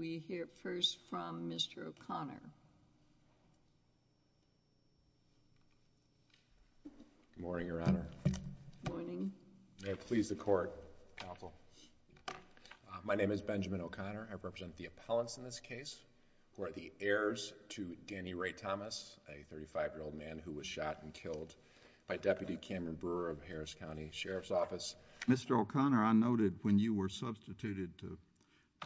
We hear first from Mr. O'Connor. Good morning, Your Honor. Good morning. May it please the Court, counsel. My name is Benjamin O'Connor. I represent the appellants in this case who are the heirs to Danny Ray Thomas, a 35-year-old man who was shot and killed by Deputy Cameron Brewer of Harris County Sheriff's Office. Mr. O'Connor, I noted when you were substituted to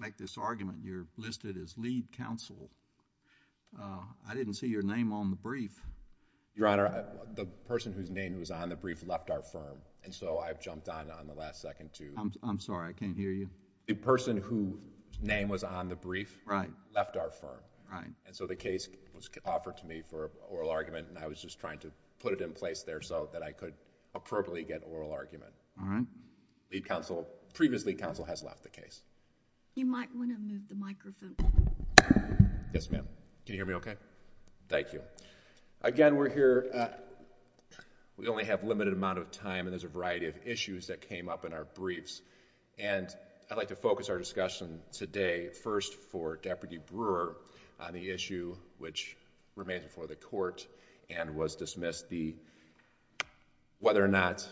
make this argument, you're listed as lead counsel. I didn't see your name on the brief. Your Honor, the person whose name was on the brief left our firm, and so I've jumped on on the last second to... I'm sorry. I can't hear you. The person whose name was on the brief... Right.... left our firm. Right. And so the case was offered to me for oral argument, and I was just trying to put it in place there so that I could appropriately get oral argument. All right. Lead counsel... previous lead counsel has left the case. You might want to move the microphone. Yes, ma'am. Can you hear me okay? Thank you. Again, we're here... we only have a limited amount of time, and there's a variety of issues that came up in our briefs. And I'd like to focus our discussion today first for Deputy Brewer on the issue which remains before the Court and was dismissed, the... whether or not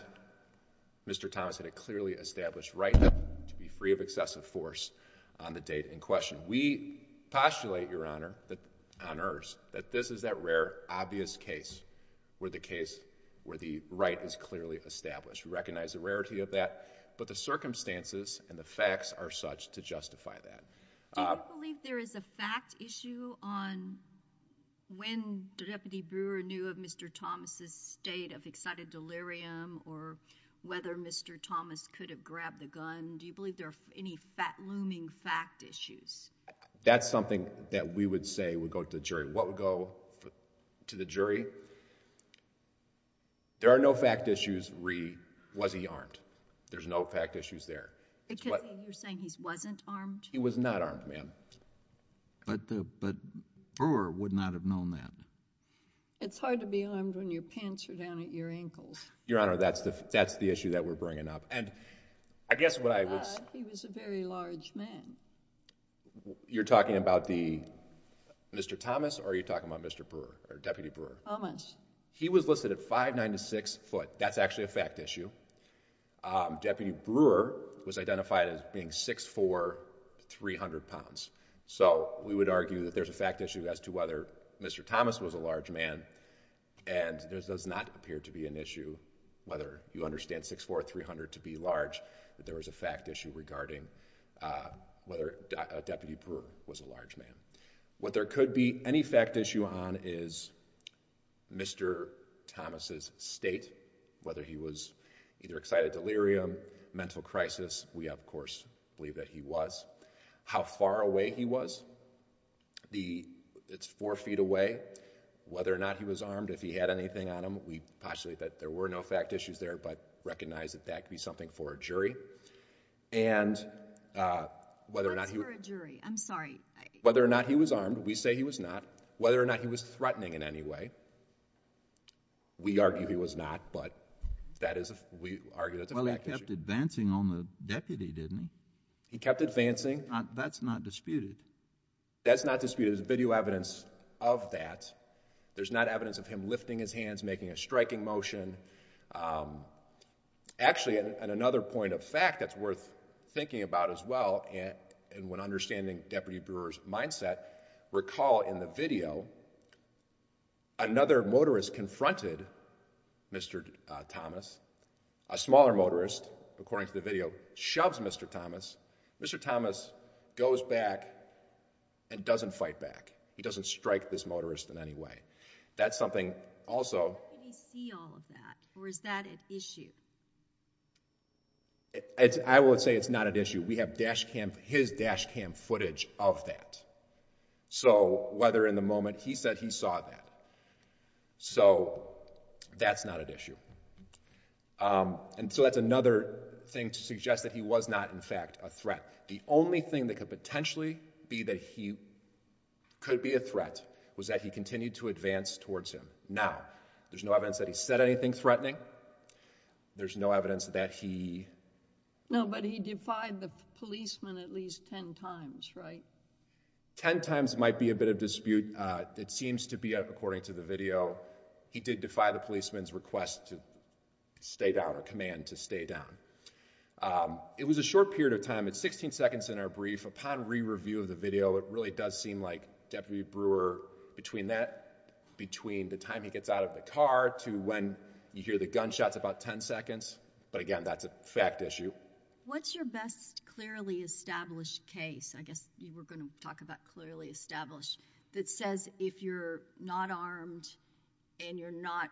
Mr. Thomas had a clearly established right to be free of excessive force on the date in question. We postulate, Your Honor, that... on Earth... that this is that rare, obvious case where the case... where the right is clearly established. We recognize the rarity of that, but the circumstances and the facts are such to justify that. Do you believe there is a fact issue on when Deputy Brewer knew of Mr. Thomas' state of excited delirium or whether Mr. Thomas could have grabbed the gun? Do you believe there are any looming fact issues? That's something that we would say would go to the jury. What would go to the jury? There are no fact issues, was he armed? There's no fact issues there. Because you're saying he wasn't armed? He was not armed, ma'am. But the... but Brewer would not have known that. It's hard to be armed when your pants are down at your ankles. Your Honor, that's the... that's the issue that we're bringing up. And I guess what I was... He was a very large man. You're talking about the... Mr. Thomas or are you talking about Mr. Brewer or Deputy Brewer? Thomas. He was listed at 5'9"-6". That's actually a fact issue. Deputy Brewer was identified as being 6'4"-300 pounds. So we would argue that there's a fact issue as to whether Mr. Thomas was a large man. And there does not appear to be an issue, whether you understand 6'4"-300 to be large, that there was a fact issue regarding whether Deputy Brewer was a large man. What there could be any fact issue on is Mr. Thomas' state, whether he was either excited delirium, mental crisis. We, of course, believe that he was. How far away he was. The... it's four feet away. Whether or not he was armed, if he had anything on him. We postulate that there were no fact issues there, but recognize that that could be something for a jury. And whether or not he... What's for a jury? I'm sorry. Whether or not he was armed, we say he was not. Whether or not he was threatening in any way, we argue he was not. But that is... we argue that's a fact issue. Well, he kept advancing on the deputy, didn't he? He kept advancing. That's not disputed. That's not disputed. There's video evidence of that. There's not evidence of him lifting his hands, making a striking motion. Actually, another point of fact that's worth thinking about as well, and when understanding Deputy Brewer's mindset, recall in the video, another motorist confronted Mr. Thomas. A smaller motorist, according to the video, shoves Mr. Thomas. Mr. Thomas goes back and doesn't fight back. He doesn't strike this motorist in any way. That's something also... Did he see all of that, or is that an issue? I would say it's not an issue. We have dash cam... his dash cam footage of that. So, whether in the moment he said he saw that. So, that's not an issue. And so that's another thing to suggest that he was not, in fact, a threat. The only thing that could potentially be that he could be a threat was that he continued to advance towards him. Now, there's no evidence that he said anything threatening. There's no evidence that he... He did tell the policeman at least 10 times, right? 10 times might be a bit of dispute. It seems to be, according to the video, he did defy the policeman's request to stay down, or command to stay down. It was a short period of time. It's 16 seconds in our brief. Upon re-review of the video, it really does seem like Deputy Brewer, between the time he gets out of the car to when you hear the gunshots, about 10 seconds. But again, that's a fact issue. What's your best clearly established case? I guess you were going to talk about clearly established. That says if you're not armed and you're not...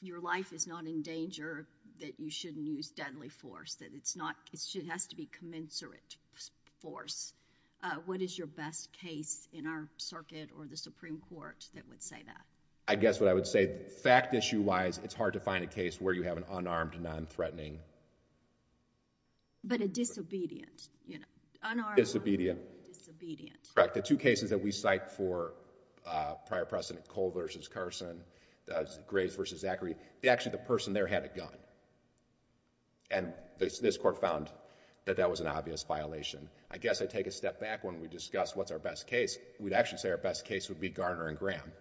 your life is not in danger, that you shouldn't use deadly force. That it's not... It has to be commensurate force. What is your best case in our circuit or the Supreme Court that would say that? I guess what I would say, fact issue wise, it's hard to find a case where you have an unarmed, non-threatening... But a disobedient, you know, unarmed... Disobedient. Disobedient. Correct. The two cases that we cite for prior precedent, Cole versus Carson, Graves versus Zachary, actually the person there had a gun. And this court found that that was an obvious violation. I guess I'd take a step back when we discuss what's our best case. We'd actually say our best case would be Garner and Graham.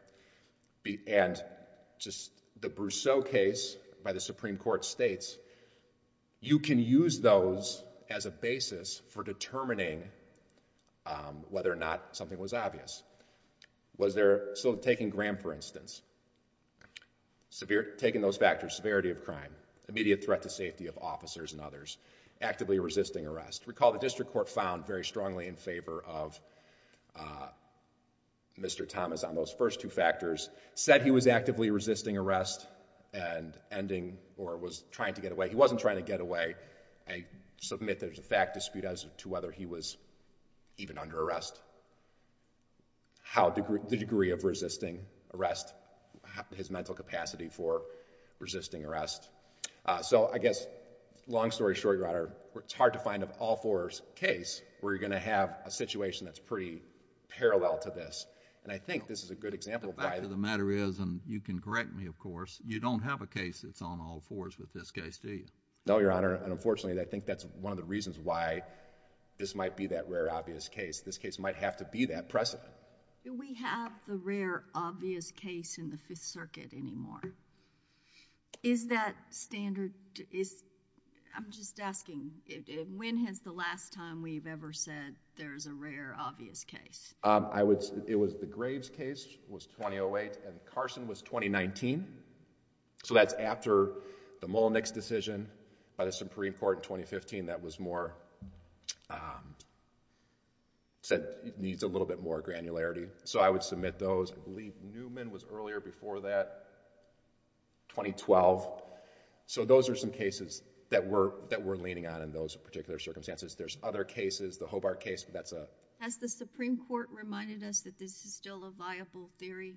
And just the Brousseau case by the Supreme Court states, you can use those as a basis for determining whether or not something was obvious. Was there... So taking Graham, for instance. Taking those factors, severity of crime, immediate threat to safety of officers and others, actively resisting arrest. Recall the district court found very strongly in favor of Mr. Thomas on those first two factors, said he was actively resisting arrest and ending or was trying to get away. He wasn't trying to get away. I submit there's a fact dispute as to whether he was even under arrest. The degree of resisting arrest, his mental capacity for resisting arrest. So I guess, long story short, it's hard to find an all-fours case where you're going to have a situation that's pretty parallel to this. And I think this is a good example of why... The fact of the matter is, and you can correct me of course, you don't have a case that's on all-fours with this case, do you? No, Your Honor, and unfortunately, I think that's one of the reasons why this might be that rare obvious case. This case might have to be that precedent. Do we have the rare obvious case in the Fifth Circuit anymore? Is that standard... I'm just asking, when has the last time we've ever said there's a rare obvious case? It was the Graves case, it was 2008, and Carson was 2019. So that's after the Mullenix decision by the Supreme Court in 2015 that was more... said it needs a little bit more granularity. So I would submit those. I believe Newman was earlier before that, 2012. So those are some cases that we're leaning on in those particular circumstances. There's other cases, the Hobart case, but that's a... Has the Supreme Court reminded us that this is still a viable theory?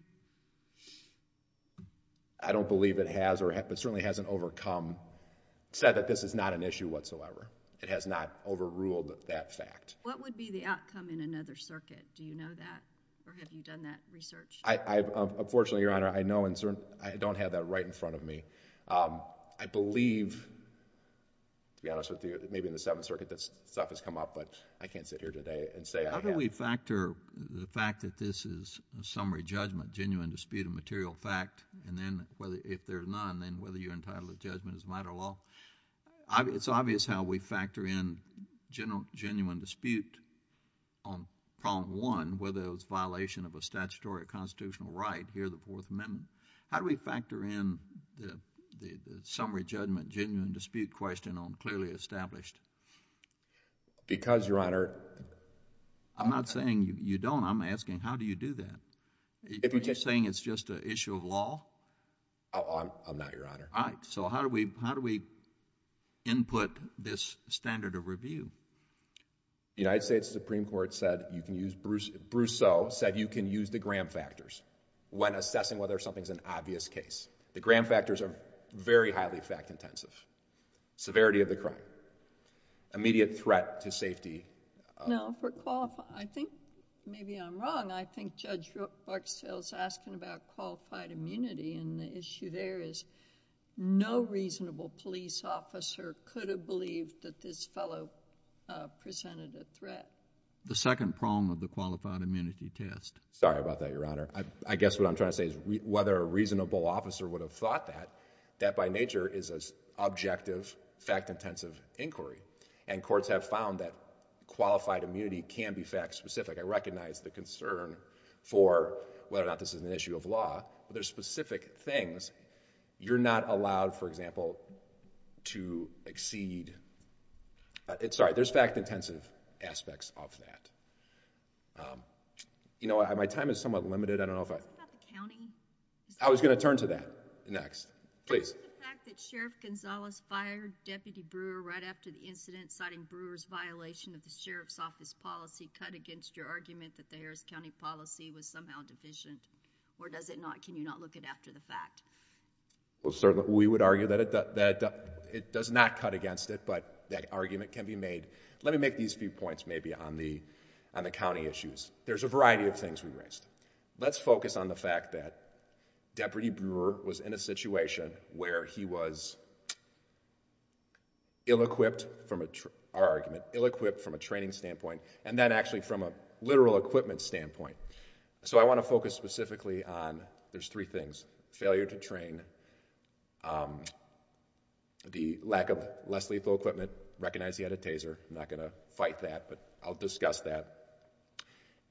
I don't believe it has, but it certainly hasn't overcome... said that this is not an issue whatsoever. It has not overruled that fact. What would be the outcome in another circuit? Do you know that, or have you done that research? Unfortunately, Your Honor, I don't have that right in front of me. I believe, to be honest with you, maybe in the Seventh Circuit this stuff has come up, but I can't sit here today and say I have. How do we factor the fact that this is a summary judgment, genuine dispute of material fact, and then if there's none, then whether you're entitled to judgment as a matter of law? It's obvious how we factor in genuine dispute on Problem 1, whether it was a violation of a statutory or constitutional right, here in the Fourth Amendment. How do we factor in the summary judgment, genuine dispute question on clearly established? Because, Your Honor... I'm not saying you don't. I'm asking how do you do that? Are you saying it's just an issue of law? I'm not, Your Honor. All right. So how do we input this standard of review? The United States Supreme Court said you can use... Brousseau said you can use the Graham factors when assessing whether something's an obvious case. The Graham factors are very highly fact intensive. Severity of the crime. Immediate threat to safety. No, for... I think maybe I'm wrong. I think Judge Barksdale's asking about qualified immunity, and the issue there is no reasonable police officer could have believed that this fellow presented a threat. The second prong of the qualified immunity test. Sorry about that, Your Honor. I guess what I'm trying to say is whether a reasonable officer would have thought that, that by nature is an objective, fact-intensive inquiry, and courts have found that qualified immunity can be fact-specific. I recognize the concern for whether or not this is an issue of law, but there's specific things. You're not allowed, for example, to exceed... Sorry, there's fact-intensive aspects of that. You know what? My time is somewhat limited. I don't know if I... I was going to turn to that next. Please. Was the fact that Sheriff Gonzalez fired Deputy Brewer right after the incident, citing Brewer's violation of the Sheriff's Office policy, cut against your argument that the Harris County policy was somehow deficient? Or does it not? Can you not look it after the fact? Well, sir, we would argue that it does not cut against it, but that argument can be made. Let me make these few points, maybe, on the county issues. There's a variety of things we raised. Let's focus on the fact that Deputy Brewer was in a situation where he was ill-equipped from a... our argument, ill-equipped from a training standpoint and then actually from a literal equipment standpoint. So I want to focus specifically on... there's three things. Failure to train. The lack of less-lethal equipment. Recognize he had a taser. I'm not going to fight that, but I'll discuss that.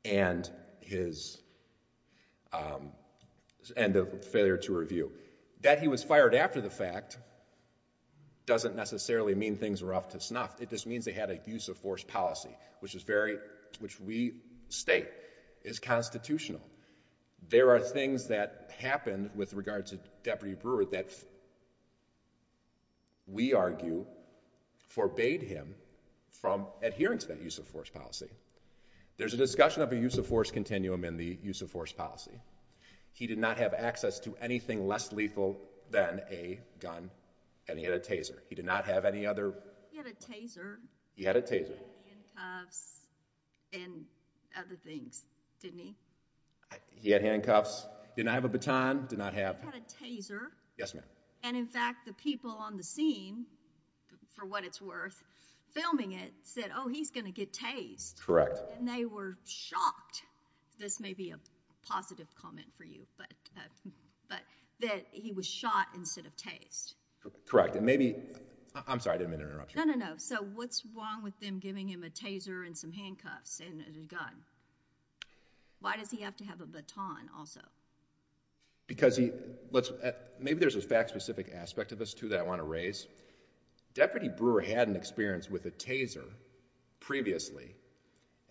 And his end of failure to review. That he was fired after the fact doesn't necessarily mean things were off to snuff. It just means they had a use-of-force policy, which is very... which we state is constitutional. There are things that happened with regard to Deputy Brewer that we argue forbade him from adhering to that use-of-force policy. There's a discussion of a use-of-force continuum in the use-of-force policy. He did not have access to anything less lethal than a gun, and he had a taser. He did not have any other... He had a taser. He had a taser. He had handcuffs and other things, didn't he? He had handcuffs. Didn't have a baton. Did not have... He had a taser. Yes, ma'am. And, in fact, the people on the scene, for what it's worth, filming it said, oh, he's going to get tased. Correct. And they were shocked. This may be a positive comment for you, but that he was shot instead of tased. Correct. And maybe... I'm sorry, I didn't mean to interrupt you. No, no, no. So what's wrong with them giving him a taser and some handcuffs and a gun? Why does he have to have a baton also? Because he... Maybe there's a fact-specific aspect of this, too, that I want to raise. Deputy Brewer had an experience with a taser previously.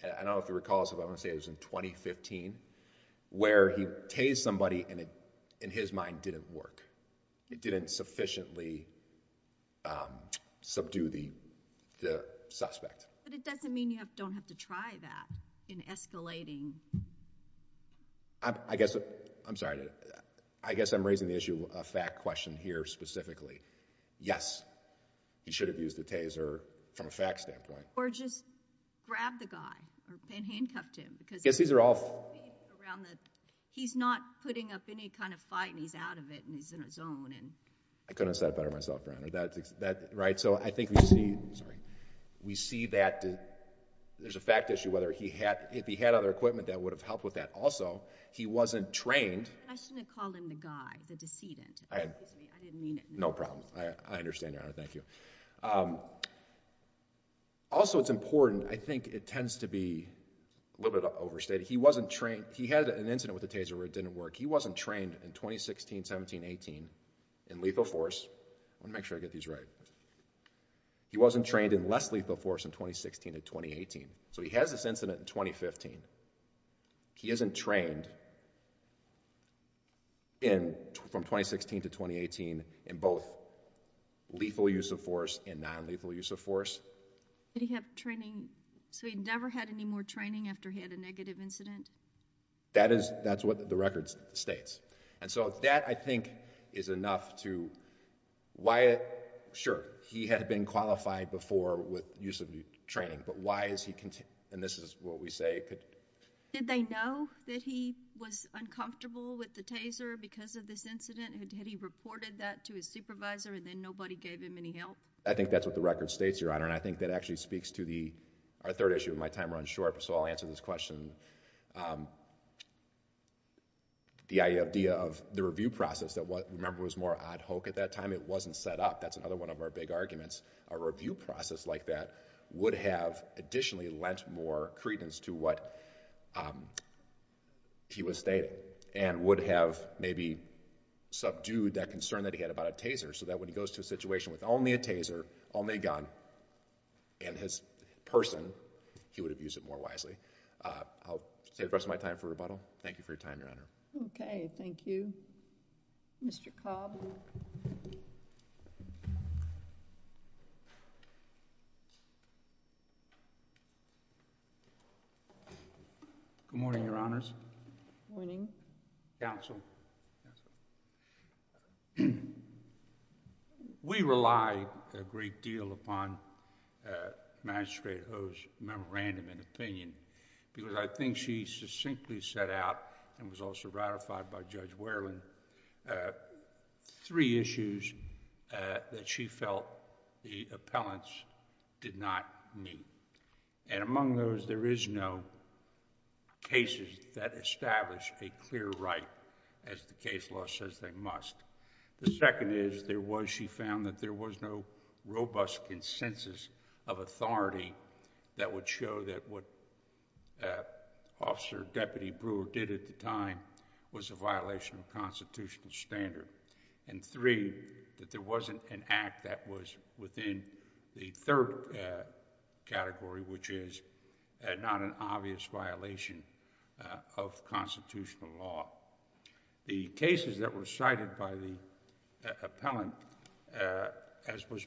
I don't know if you recall this, but I want to say it was in 2015, where he tased somebody and it, in his mind, didn't work. It didn't sufficiently subdue the suspect. But it doesn't mean you don't have to try that in escalating... I guess... I'm sorry. I guess I'm raising the issue of fact question here specifically. Yes, he should have used a taser from a fact standpoint. Or just grab the guy or handcuff him because... I guess these are all... He's not putting up any kind of fight, and he's out of it, and he's in a zone. I couldn't have said it better myself, Brian. So I think we see that there's a fact issue, whether if he had other equipment that would have helped with that. Also, he wasn't trained... I shouldn't have called him the guy, the decedent. Excuse me. I didn't mean it. No problem. I understand, Your Honor. Thank you. Also, it's important. I think it tends to be a little bit overstated. He wasn't trained... He had an incident with a taser where it didn't work. He wasn't trained in 2016, 17, 18 in lethal force. I want to make sure I get these right. He wasn't trained in less lethal force in 2016 and 2018. So he has this incident in 2015. He isn't trained from 2016 to 2018 in both lethal use of force and non-lethal use of force. Did he have training... So he never had any more training after he had a negative incident? That's what the record states. And so that, I think, is enough to... Why... Sure, he had been qualified before with use of training, but why is he... and this is what we say... Did they know that he was uncomfortable with the taser because of this incident? Had he reported that to his supervisor and then nobody gave him any help? I think that's what the record states, Your Honor, and I think that actually speaks to the... Our third issue of my time runs short, so I'll answer this question. The idea of the review process that, remember, was more ad hoc at that time. It wasn't set up. That's another one of our big arguments. A review process like that would have additionally lent more credence to what he was stating and would have maybe subdued that concern that he had about a taser so that when he goes to a situation with only a taser, only a gun, and his person, he would have used it more wisely. I'll save the rest of my time for rebuttal. Thank you for your time, Your Honor. Okay, thank you. Mr. Cobb. Good morning, Your Honors. Good morning. Counsel. Counsel. We rely a great deal upon Magistrate Ho's memorandum and opinion because I think she succinctly set out and was also ratified by Judge Wareland three issues that she felt the appellants did not meet. Among those, there is no cases that establish a clear right as the case law says they must. The second is, she found that there was no robust consensus of authority that would show that what Officer Deputy Brewer did at the time was a violation of constitutional standard. And three, that there wasn't an act that was within the third category, which is not an obvious violation of constitutional law. The cases that were cited by the appellant, as was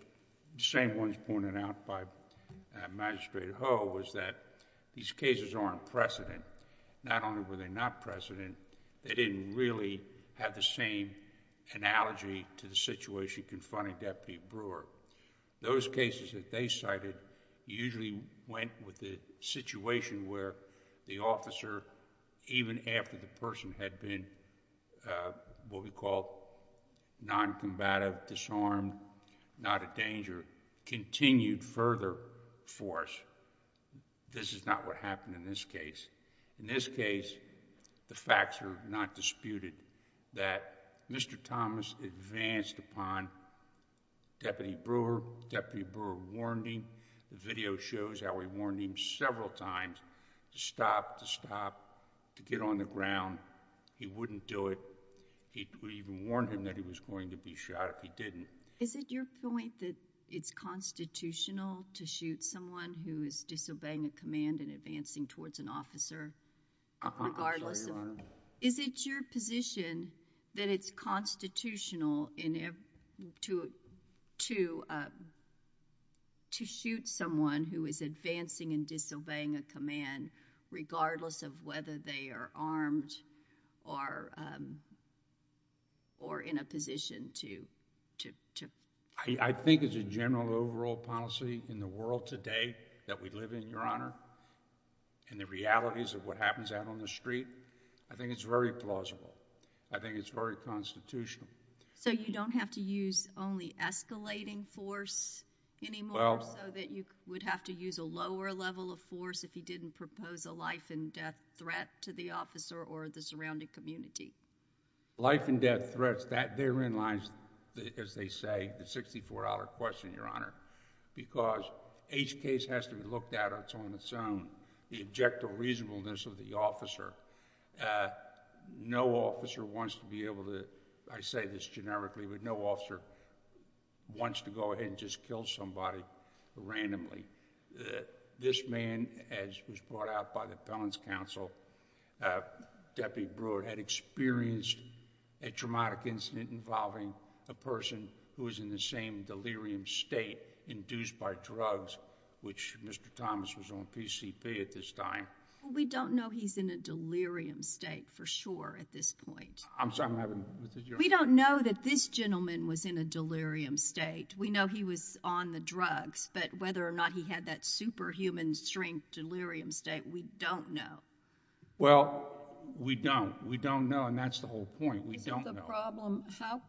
the same ones pointed out by Magistrate Ho, was that these cases aren't precedent. Not only were they not precedent, they didn't really have the same analogy to the situation confronting Deputy Brewer. Those cases that they cited usually went with the situation where the officer, even after the person had been what we call noncombative, disarmed, not a danger, continued further force. This is not what happened in this case. In this case, the facts are not disputed that Mr. Thomas advanced upon Deputy Brewer. Deputy Brewer warned him. The video shows how he warned him several times to stop, to stop, to get on the ground. He wouldn't do it. We even warned him that he was going to be shot if he didn't. Is it your point that it's constitutional to shoot someone who is disobeying a command and advancing towards an officer regardless of— Uh-huh. That's right, Your Honor. Is it your position that it's constitutional to shoot someone who is advancing and disobeying a command regardless of whether they are armed or in a position to— I think as a general overall policy in the world today that we live in, Your Honor, and the realities of what happens out on the street, I think it's very plausible. I think it's very constitutional. So you don't have to use only escalating force anymore, so that you would have to use a lower level of force if he didn't propose a life-and-death threat to the officer or the surrounding community? Life-and-death threats, that therein lies, as they say, the $64 question, Your Honor, because each case has to be looked at on its own. The objective reasonableness of the officer. No officer wants to be able to, I say this generically, but no officer wants to go ahead and just kill somebody randomly. This man, as was brought out by the Appellant's Counsel, Deputy Brewer, had experienced a traumatic incident involving a person who was in the same delirium state induced by drugs, which Mr. Thomas was on PCP at this time. We don't know he's in a delirium state for sure at this point. I'm sorry, I'm having— We don't know that this gentleman was in a delirium state. We know he was on the drugs, but whether or not he had that superhuman strength delirium state, we don't know. Well, we don't. We don't know, and that's the whole point. We don't know. How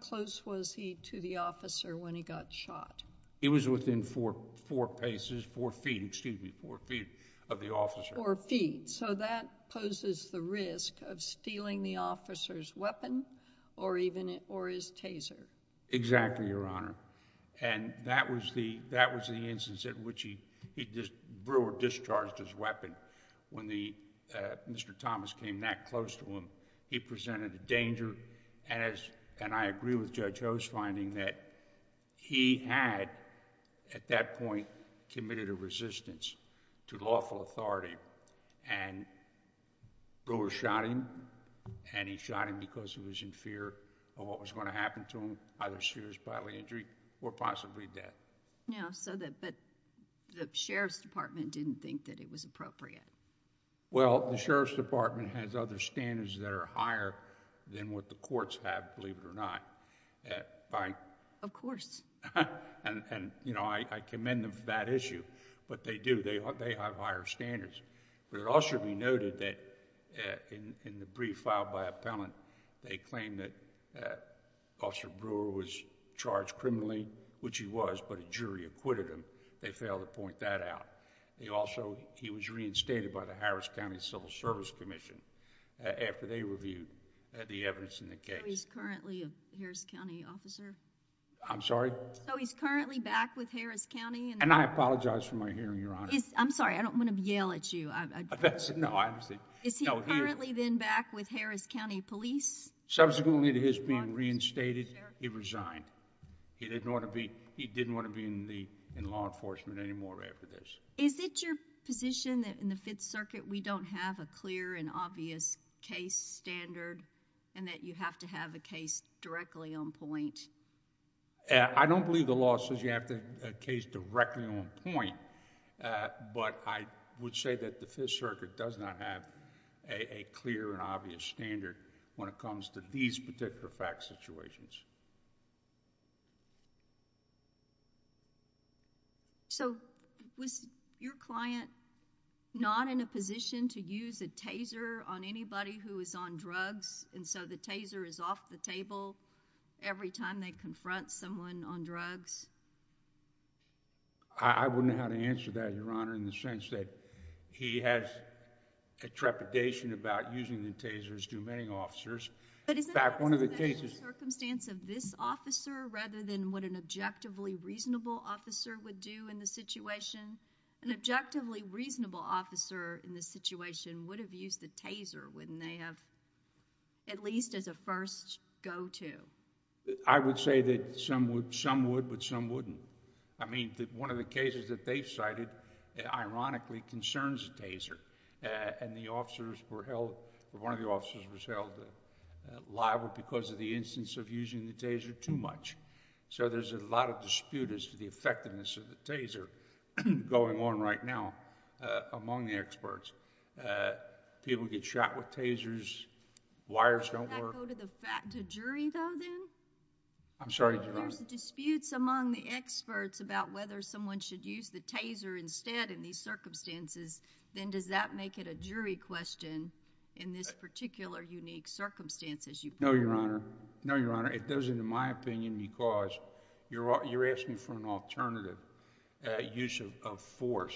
close was he to the officer when he got shot? He was within four feet of the officer. Four feet, so that poses the risk of stealing the officer's weapon or his taser. Exactly, Your Honor, and that was the instance in which Brewer discharged his weapon. When Mr. Thomas came that close to him, he presented a danger, and I agree with Judge Ho's finding that he had, at that point, committed a resistance to lawful authority, and Brewer shot him, and he shot him because he was in fear of what was going to happen to him, either serious bodily injury or possibly death. No, but the Sheriff's Department didn't think that it was appropriate. Well, the Sheriff's Department has other standards that are higher than what the courts have, believe it or not. Of course. And, you know, I commend them for that issue, but they do. They have higher standards, but it also should be noted that in the brief filed by appellant, they claim that Officer Brewer was charged criminally, which he was, but a jury acquitted him. They failed to point that out. Also, he was reinstated by the Harris County Civil Service Commission after they reviewed the evidence in the case. So he's currently a Harris County officer? I'm sorry? So he's currently back with Harris County? And I apologize for my hearing, Your Honor. I'm sorry, I don't want to yell at you. No, I understand. Is he currently then back with Harris County Police? Subsequently to his being reinstated, he resigned. He didn't want to be in law enforcement anymore after this. Is it your position that in the Fifth Circuit we don't have a clear and obvious case standard and that you have to have a case directly on point? I don't believe the law says you have to have a case directly on point, but I would say that the Fifth Circuit does not have a clear and obvious standard when it comes to these particular fact situations. So was your client not in a position to use a taser on anybody who is on drugs and so the taser is off the table every time they confront someone on drugs? I wouldn't know how to answer that, Your Honor, in the sense that he has a trepidation about using the taser as do many officers. But is that a special circumstance of this officer rather than what an objectively reasonable officer would do in this situation? An objectively reasonable officer in this situation would have used the taser, wouldn't they have? At least as a first go-to. I would say that some would, but some wouldn't. I mean, one of the cases that they've cited ironically concerns a taser and the officers were held... one of the officers was held liable because of the instance of using the taser too much. So there's a lot of dispute as to the effectiveness of the taser going on right now among the experts. Does that go to the jury though then? I'm sorry, Your Honor. If there's disputes among the experts about whether someone should use the taser instead in these circumstances, then does that make it a jury question in this particular unique circumstance as you point out? No, Your Honor. No, Your Honor. It doesn't in my opinion because you're asking for an alternative use of force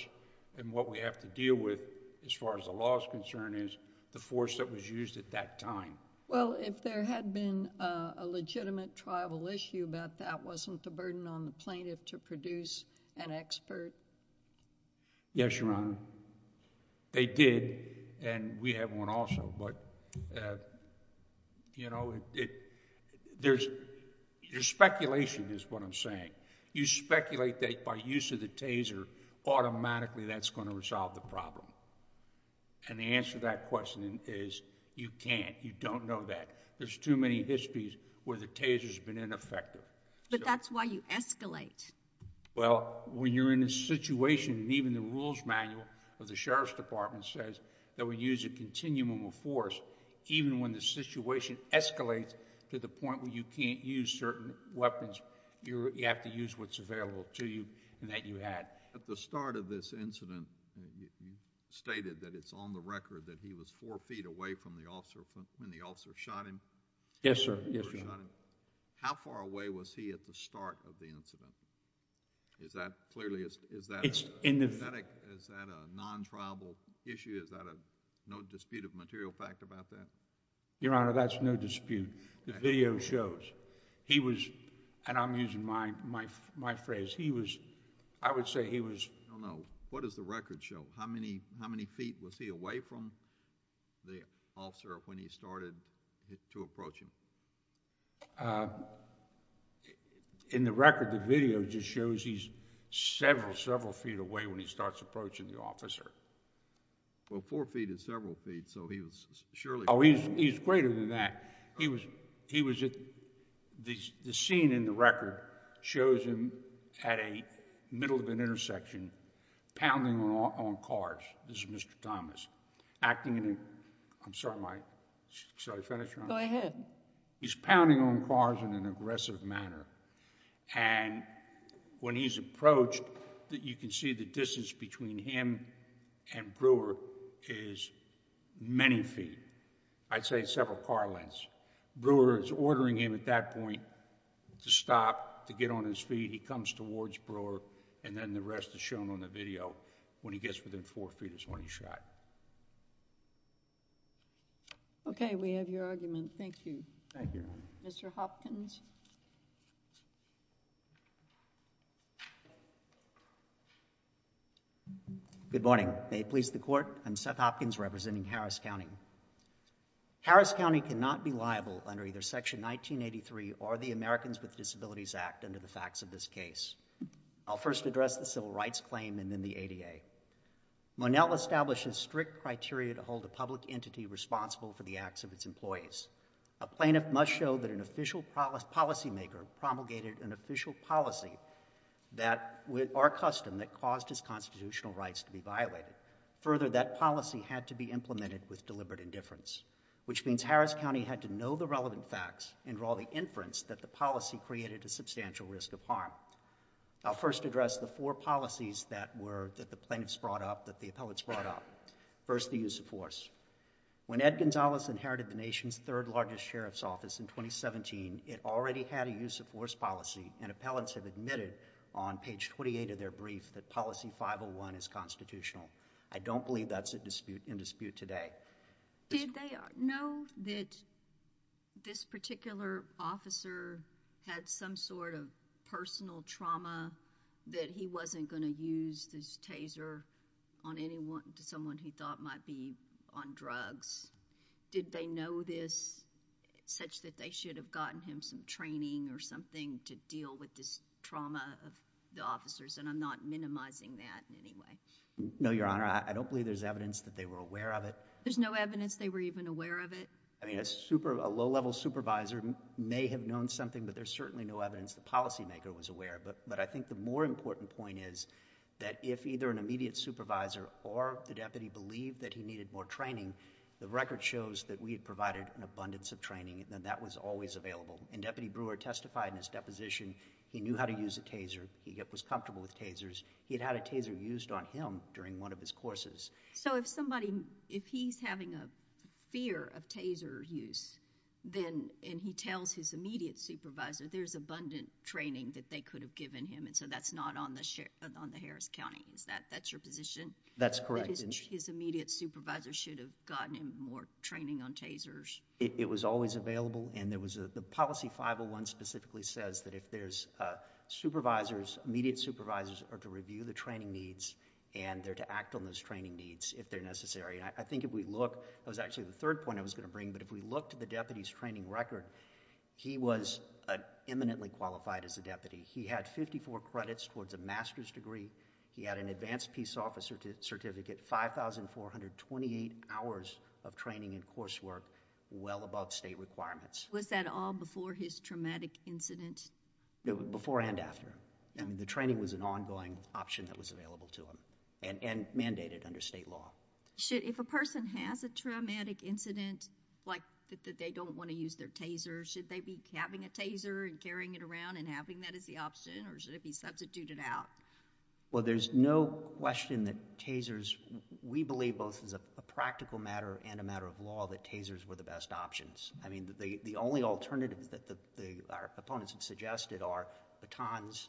and what we have to deal with as far as the law is concerned is the force that was used at that time. Well, if there had been a legitimate tribal issue about that, wasn't the burden on the plaintiff to produce an expert? Yes, Your Honor. They did and we have one also, but you know, there's... your speculation is what I'm saying. You speculate that by use of the taser, automatically that's going to resolve the problem and the answer to that question is you can't. You don't know that. There's too many histories where the taser has been ineffective. But that's why you escalate. Well, when you're in a situation and even the rules manual of the sheriff's department says that we use a continuum of force, even when the situation escalates to the point where you can't use certain weapons, you have to use what's available to you and that you had. At the start of this incident, you stated that it's on the record that he was four feet away from the officer when the officer shot him. Yes, sir. Yes, Your Honor. How far away was he at the start of the incident? Is that clearly... It's in the... Is that a non-tribal issue? Is that a no dispute of material fact about that? Your Honor, that's no dispute. The video shows. He was... and I'm using my phrase. He was... I would say he was... No, no. What does the record show? How many feet was he away from the officer when he started to approach him? In the record, the video just shows he's several, several feet away when he starts approaching the officer. Well, four feet is several feet, so he was surely... Oh, he's greater than that. He was at... the scene in the record shows him at a middle of an intersection with several cars. This is Mr. Thomas acting in a... I'm sorry, my... Shall I finish, Your Honor? Go ahead. He's pounding on cars in an aggressive manner, and when he's approached, you can see the distance between him and Brewer is many feet. I'd say several car lengths. Brewer is ordering him at that point to stop, to get on his feet. He comes towards Brewer, and then the rest is shown on the video. When he gets within four feet is when he's shot. Okay. We have your argument. Thank you. Thank you, Your Honor. Mr. Hopkins? Good morning. May it please the Court, I'm Seth Hopkins representing Harris County. Harris County cannot be liable under either Section 1983 or the Americans with Disabilities Act under the facts of this case. I'll first address the civil rights claim and then the ADA. Monell established a strict criteria to hold a public entity responsible for the acts of its employees. A plaintiff must show that an official policymaker promulgated an official policy, our custom, that caused his constitutional rights to be violated. Further, that policy had to be implemented with deliberate indifference, which means Harris County had to know the relevant facts and draw the inference that the policy created a substantial risk of harm. I'll first address the four policies that the plaintiffs brought up, that the appellants brought up. First, the use of force. When Ed Gonzalez inherited the nation's third largest sheriff's office in 2017, it already had a use of force policy, and appellants have admitted on page 28 of their brief that policy 501 is constitutional. I don't believe that's in dispute today. Did they know that this particular officer had some sort of personal trauma that he wasn't going to use this taser on someone he thought might be on drugs? Did they know this such that they should have gotten him some training or something to deal with this trauma of the officers? And I'm not minimizing that in any way. No, Your Honor. I don't believe there's evidence that they were aware of it. There's no evidence they were even aware of it? I mean, a low-level supervisor may have known something, but there's certainly no evidence the policymaker was aware of it. But I think the more important point is that if either an immediate supervisor or the deputy believed that he needed more training, the record shows that we had provided an abundance of training, and that was always available. And Deputy Brewer testified in his deposition he knew how to use a taser. He was comfortable with tasers. He had had a taser used on him during one of his courses. So if somebody, if he's having a fear of taser use, and he tells his immediate supervisor there's abundant training that they could have given him, and so that's not on the Harris County, is that your position? That's correct. That his immediate supervisor should have gotten him more training on tasers? It was always available, and the policy 501 specifically says that if there's supervisors, immediate supervisors are to review the training needs and they're to act on those training needs if they're necessary. I think if we look, that was actually the third point I was going to bring, but if we look to the deputy's training record, he was eminently qualified as a deputy. He had 54 credits towards a master's degree. He had an advanced peace officer certificate, 5,428 hours of training and coursework, well above state requirements. Was that all before his traumatic incident? Before and after. The training was an ongoing option that was available to him and mandated under state law. If a person has a traumatic incident, like that they don't want to use their taser, should they be having a taser and carrying it around and having that as the option or should it be substituted out? Well, there's no question that tasers, we believe both as a practical matter and a matter of law that tasers were the best options. I mean, the only alternatives that our opponents have suggested are batons,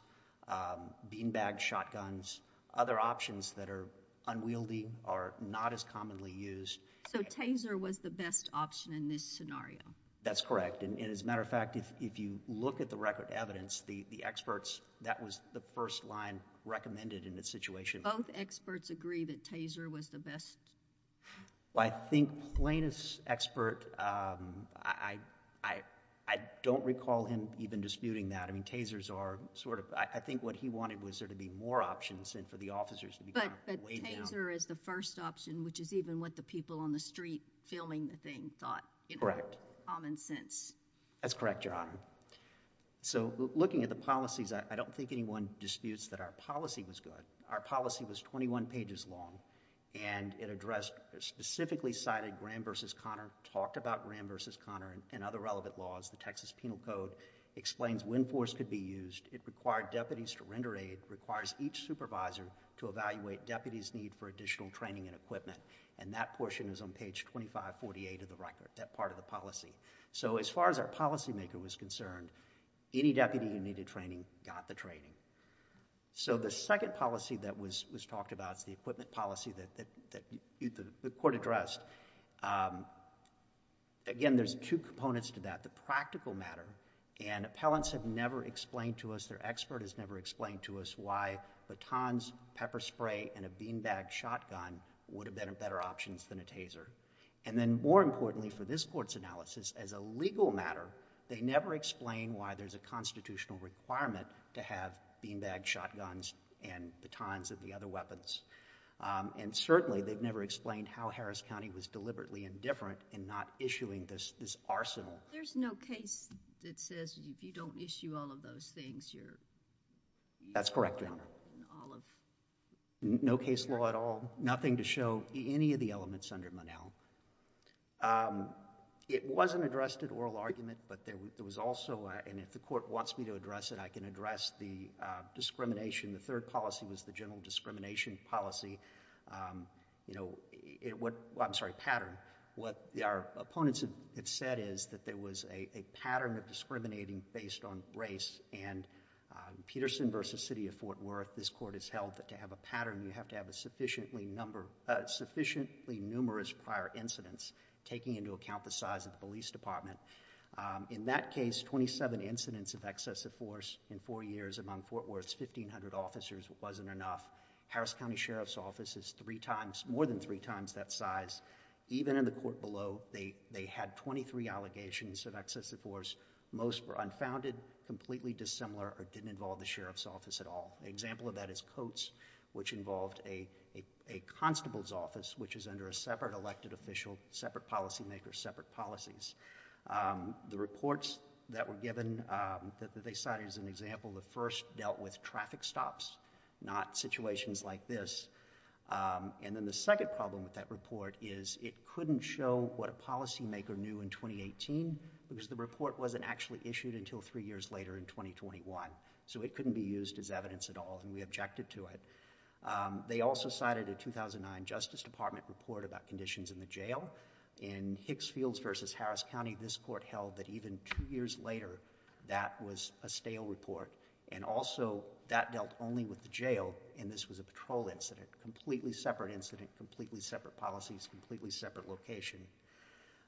beanbag shotguns, other options that are unwieldy or not as commonly used. So taser was the best option in this scenario? That's correct. As a matter of fact, if you look at the record of evidence, the experts, that was the first line recommended in this situation. Both experts agree that taser was the best? Well, I think Plaintiff's expert, I don't recall him even disputing that. I mean, tasers are sort of, I think what he wanted was there to be more options and for the officers to be kind of weighed down. But taser is the first option, which is even what the people on the street filming the thing thought. Correct. Common sense. That's correct, Your Honor. So looking at the policies, I don't think anyone disputes that our policy was good. And it addressed, specifically cited Graham v. Conner, talked about Graham v. Conner and other relevant laws. The Texas Penal Code explains when force could be used. It required deputies to render aid. It requires each supervisor to evaluate deputies' need for additional training and equipment. And that portion is on page 2548 of the record, that part of the policy. So as far as our policymaker was concerned, any deputy who needed training got the training. So the second policy that was talked about is the equipment policy that the court addressed. Again, there's two components to that. The practical matter, and appellants have never explained to us, their expert has never explained to us why batons, pepper spray, and a beanbag shotgun would have been better options than a taser. And then more importantly for this Court's analysis, as a legal matter, they never explain why there's a constitutional requirement to have beanbag shotguns and batons of the other weapons. And certainly they've never explained how Harris County was deliberately indifferent in not issuing this arsenal. There's no case that says if you don't issue all of those things, you're... That's correct, Your Honor. All of... No case law at all, nothing to show any of the elements under Monell. It wasn't addressed at oral argument, but there was also... And if the Court wants me to address it, I can address the discrimination. The third policy was the general discrimination policy. You know, what... I'm sorry, pattern. What our opponents have said is that there was a pattern of discriminating based on race, and in Peterson v. City of Fort Worth, this Court has held that to have a pattern, you have to have a sufficiently number... sufficiently numerous prior incidents, taking into account the size of the police department. In that case, 27 incidents of excessive force in four years among Fort Worth's 1,500 officers wasn't enough. Harris County Sheriff's Office is three times... more than three times that size. Even in the Court below, they had 23 allegations of excessive force. Most were unfounded, completely dissimilar, or didn't involve the Sheriff's Office at all. An example of that is Coates, which involved a constable's office, which is under a separate elected official, separate policy makers, separate policies. The reports that were given, that they cited as an example, the first dealt with traffic stops, not situations like this. And then the second problem with that report is it couldn't show what a policy maker knew in 2018, because the report wasn't actually issued until three years later in 2021. So it couldn't be used as evidence at all, and we objected to it. They also cited a 2009 Justice Department report about conditions in the jail. In Hicksfields v. Harris County, this Court held that even two years later, that was a stale report. And also, that dealt only with the jail, and this was a patrol incident. Completely separate incident, completely separate policies,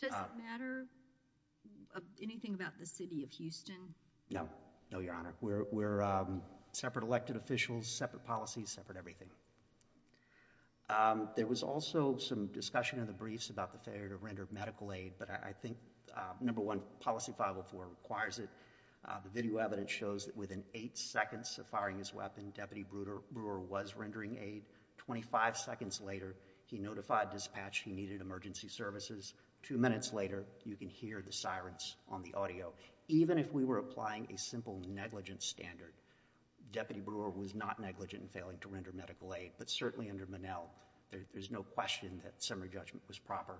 Does it matter anything about the City of Houston? No. No, Your Honor. We're separate elected officials, separate policies, separate everything. There was also some discussion in the briefs about the failure to render medical aid, but I think, number one, Policy 504 requires it. The video evidence shows that within eight seconds of firing his weapon, Deputy Brewer was rendering aid. Twenty-five seconds later, he notified dispatch he needed emergency services. Two minutes later, you can hear the sirens on the audio. Even if we were applying a simple negligence standard, Deputy Brewer was not negligent in failing to render medical aid, but certainly under Monell, there's no question that summary judgment was proper.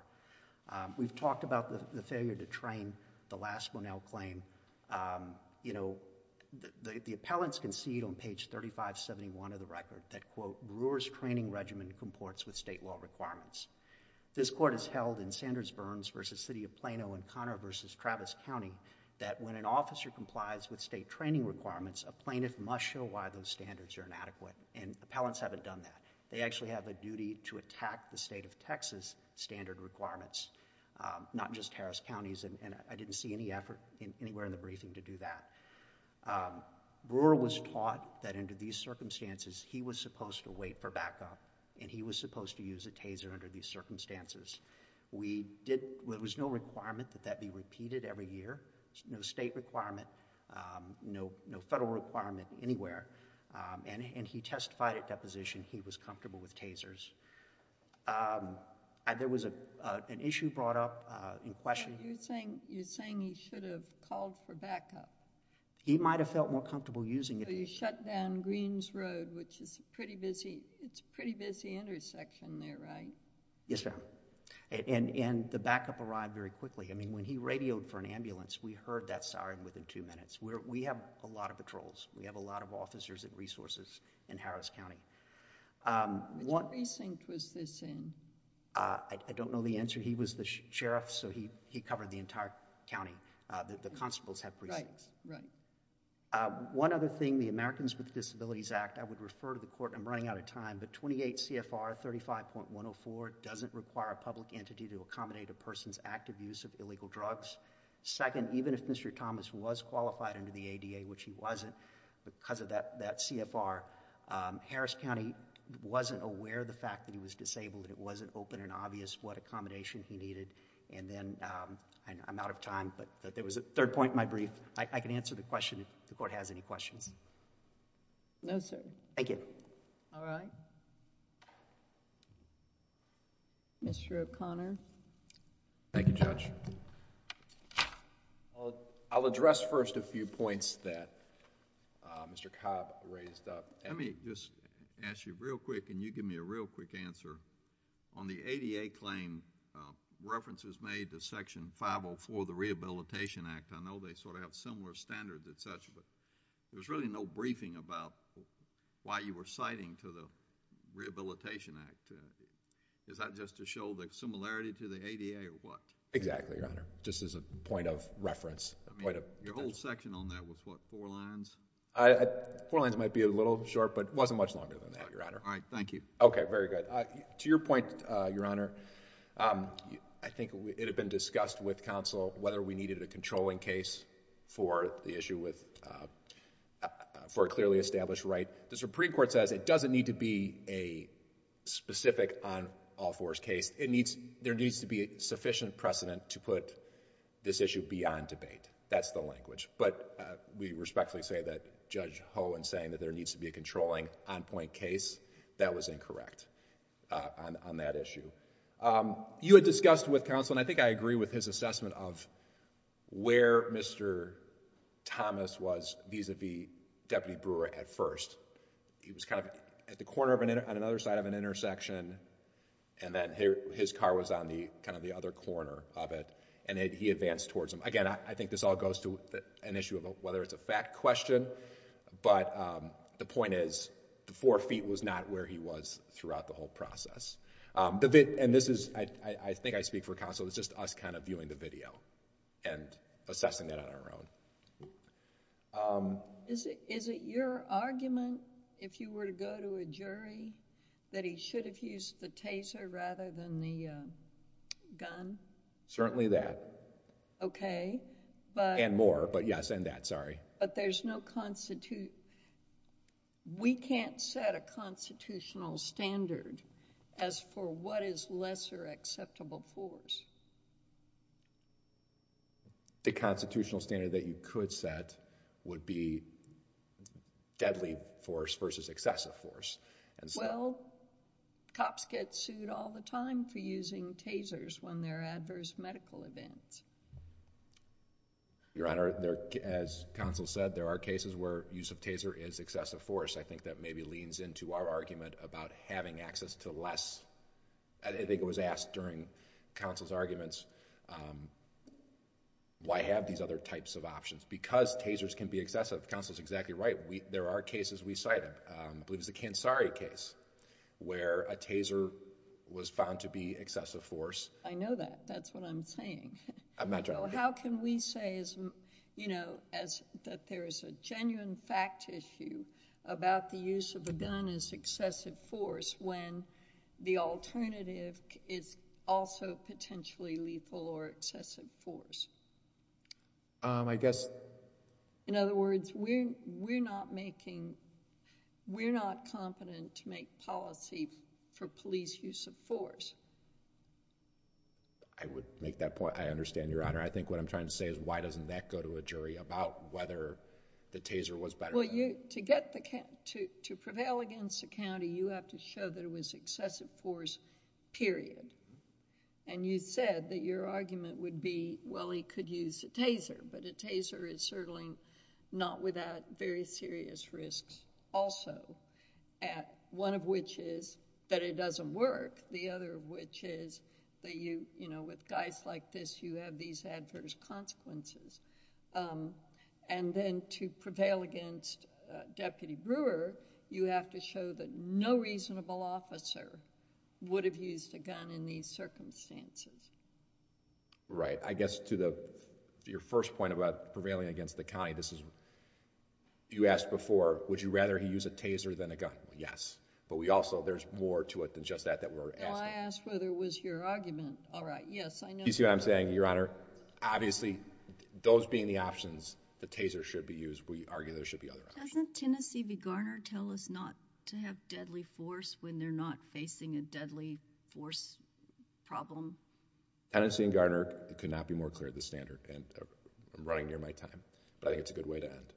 We've talked about the failure to train. The last Monell claim, you know, the appellants concede on page 3571 of the record that, quote, Brewer's training regimen comports with state law requirements. This Court has held in Sanders-Burns v. City of Plano and Conner v. Travis County that when an officer complies with state training requirements, a plaintiff must show why those standards are inadequate, and appellants haven't done that. They actually have a duty to attack the state of Texas standard requirements, not just Harris County's, and I didn't see any effort anywhere in the briefing to do that. Brewer was taught that under these circumstances, he was supposed to wait for backup, and he was supposed to use a taser under these circumstances. There was no requirement that that be repeated every year, no state requirement, no federal requirement anywhere, and he testified at deposition he was comfortable with tasers. There was an issue brought up in question. You're saying he should have called for backup. He might have felt more comfortable using it. You shut down Greens Road, which is a pretty busy intersection there, right? Yes, ma'am, and the backup arrived very quickly. I mean, when he radioed for an ambulance, we heard that siren within two minutes. We have a lot of patrols. We have a lot of officers and resources in Harris County. Which precinct was this in? I don't know the answer. He was the sheriff, so he covered the entire county. The constables have precincts. Right, right. One other thing, the Americans with Disabilities Act, I would refer to the court, and I'm running out of time, but 28 CFR 35.104 doesn't require a public entity to accommodate a person's active use of illegal drugs. Second, even if Mr. Thomas was qualified under the ADA, which he wasn't because of that CFR, Harris County wasn't aware of the fact that he was disabled and it wasn't open and obvious what accommodation he needed, and then I'm out of time, but there was a third point in my brief. I can answer the question if the court has any questions. No, sir. Thank you. All right. Mr. O'Connor. Thank you, Judge. I'll address first a few points that Mr. Cobb raised up. Let me just ask you real quick, and you give me a real quick answer. On the ADA claim, references made to Section 504 of the Rehabilitation Act, I know they sort of have similar standards and such, but there's really no briefing about why you were citing to the Rehabilitation Act. Is that just to show the similarity to the ADA or what? Exactly, Your Honor. Just as a point of reference. Your whole section on that was what, four lines? Four lines might be a little short, but it wasn't much longer than that, Your Honor. All right. Thank you. Okay. Very good. To your point, Your Honor, I think it had been discussed with counsel whether we needed a controlling case for the issue with... for a clearly established right. The Supreme Court says it doesn't need to be a specific on-all-fours case. There needs to be sufficient precedent to put this issue beyond debate. That's the language. But we respectfully say that Judge Hohen saying that there needs to be a controlling on-point case, that was incorrect on that issue. You had discussed with counsel, and I think I agree with his assessment of where Mr. Thomas was vis-a-vis Deputy Brewer at first. He was kind of at the corner on another side of an intersection, and then his car was on kind of the other corner of it, and he advanced towards him. Again, I think this all goes to an issue of whether it's a fact question, but the point is the four feet was not where he was throughout the whole process. This is... I think I speak for counsel. It's just us kind of viewing the video and assessing it on our own. Is it your argument, if you were to go to a jury, that he should have used the taser rather than the gun? Certainly that. Okay, but... And more, but yes, and that, sorry. But there's no... We can't set a constitutional standard as for what is lesser acceptable force. The constitutional standard that you could set would be deadly force versus excessive force. Well, cops get sued all the time for using tasers when there are adverse medical events. Your Honor, as counsel said, there are cases where use of taser is excessive force. I think that maybe leans into our argument about having access to less. I think it was asked during counsel's arguments, why have these other types of options? Because tasers can be excessive. Counsel is exactly right. There are cases we cited. I believe it was the Kansari case where a taser was found to be excessive force. I know that. That's what I'm saying. How can we say that there is a genuine fact issue about the use of a gun as excessive force when the alternative is also potentially lethal or excessive force? I guess... In other words, we're not making... We're not competent to make policy for police use of force. I would make that point. I understand, Your Honor. I think what I'm trying to say is why doesn't that go to a jury about whether the taser was better? Well, to prevail against a county, you have to show that it was excessive force, period. And you said that your argument would be, well, he could use a taser, but a taser is certainly not without very serious risks also. One of which is that it doesn't work. The other of which is that with guys like this, you have these adverse consequences. And then to prevail against Deputy Brewer, you have to show that no reasonable officer would have used a gun in these circumstances. Right. I guess to your first point about prevailing against the county, this is... You asked before, would you rather he use a taser than a gun? Yes. But we also... there's more to it than just that that we're asking. Well, I asked whether it was your argument. All right. Yes, I know... You see what I'm saying, Your Honor? Obviously, those being the options, the taser should be used. We argue there should be other options. Doesn't Tennessee v. Garner tell us not to have deadly force when they're not facing a deadly force problem? Tennessee v. Garner could not be more clear of the standard. I'm running near my time, but I think it's a good way to end.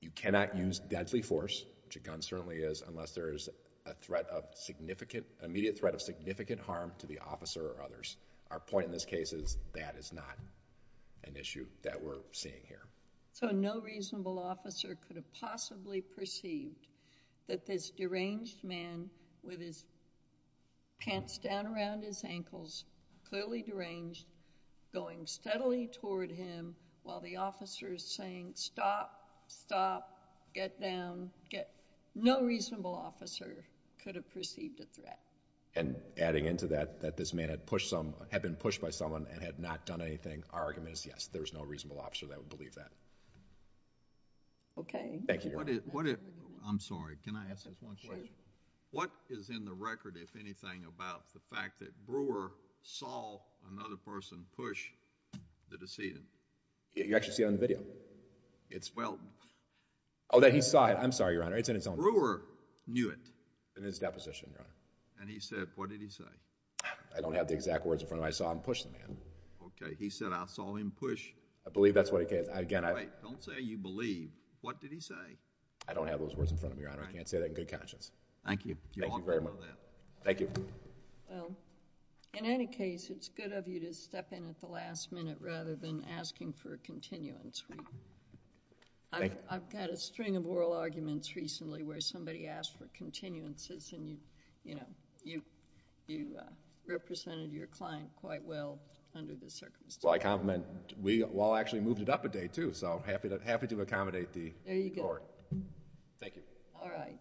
You cannot use deadly force, which a gun certainly is, unless there is an immediate threat of significant harm to the officer or others. Our point in this case is that is not an issue that we're seeing here. So no reasonable officer could have possibly perceived that this deranged man with his pants down around his ankles, clearly deranged, going steadily toward him while the officer is saying, stop, stop, get down, get... No reasonable officer could have perceived a threat. And adding into that, that this man had been pushed by someone and had not done anything, our argument is, yes, there's no reasonable officer that would believe that. Okay. Thank you, Your Honor. I'm sorry. Can I ask just one question? What is in the record, if anything, about the fact that Brewer saw another person push the decedent? You actually see it on the video. It's well... Oh, that he saw it. I'm sorry, Your Honor. It's in its own... Brewer knew it. In his deposition, Your Honor. And he said, what did he say? I don't have the exact words in front of me. I saw him push the man. Okay. He said, I saw him push... I believe that's what he said. Wait. Don't say you believe. What did he say? I don't have those words in front of me, Your Honor. I can't say that in good conscience. Thank you. Thank you very much. You ought to know that. Thank you. Well, in any case, it's good of you to step in at the last minute rather than asking for a continuance. Thank you. I've got a string of oral arguments recently where somebody asked for continuances, and you represented your client quite well under the circumstances. So I compliment we all actually moved it up a day, too. So happy to accommodate the court. There you go. Thank you. All right.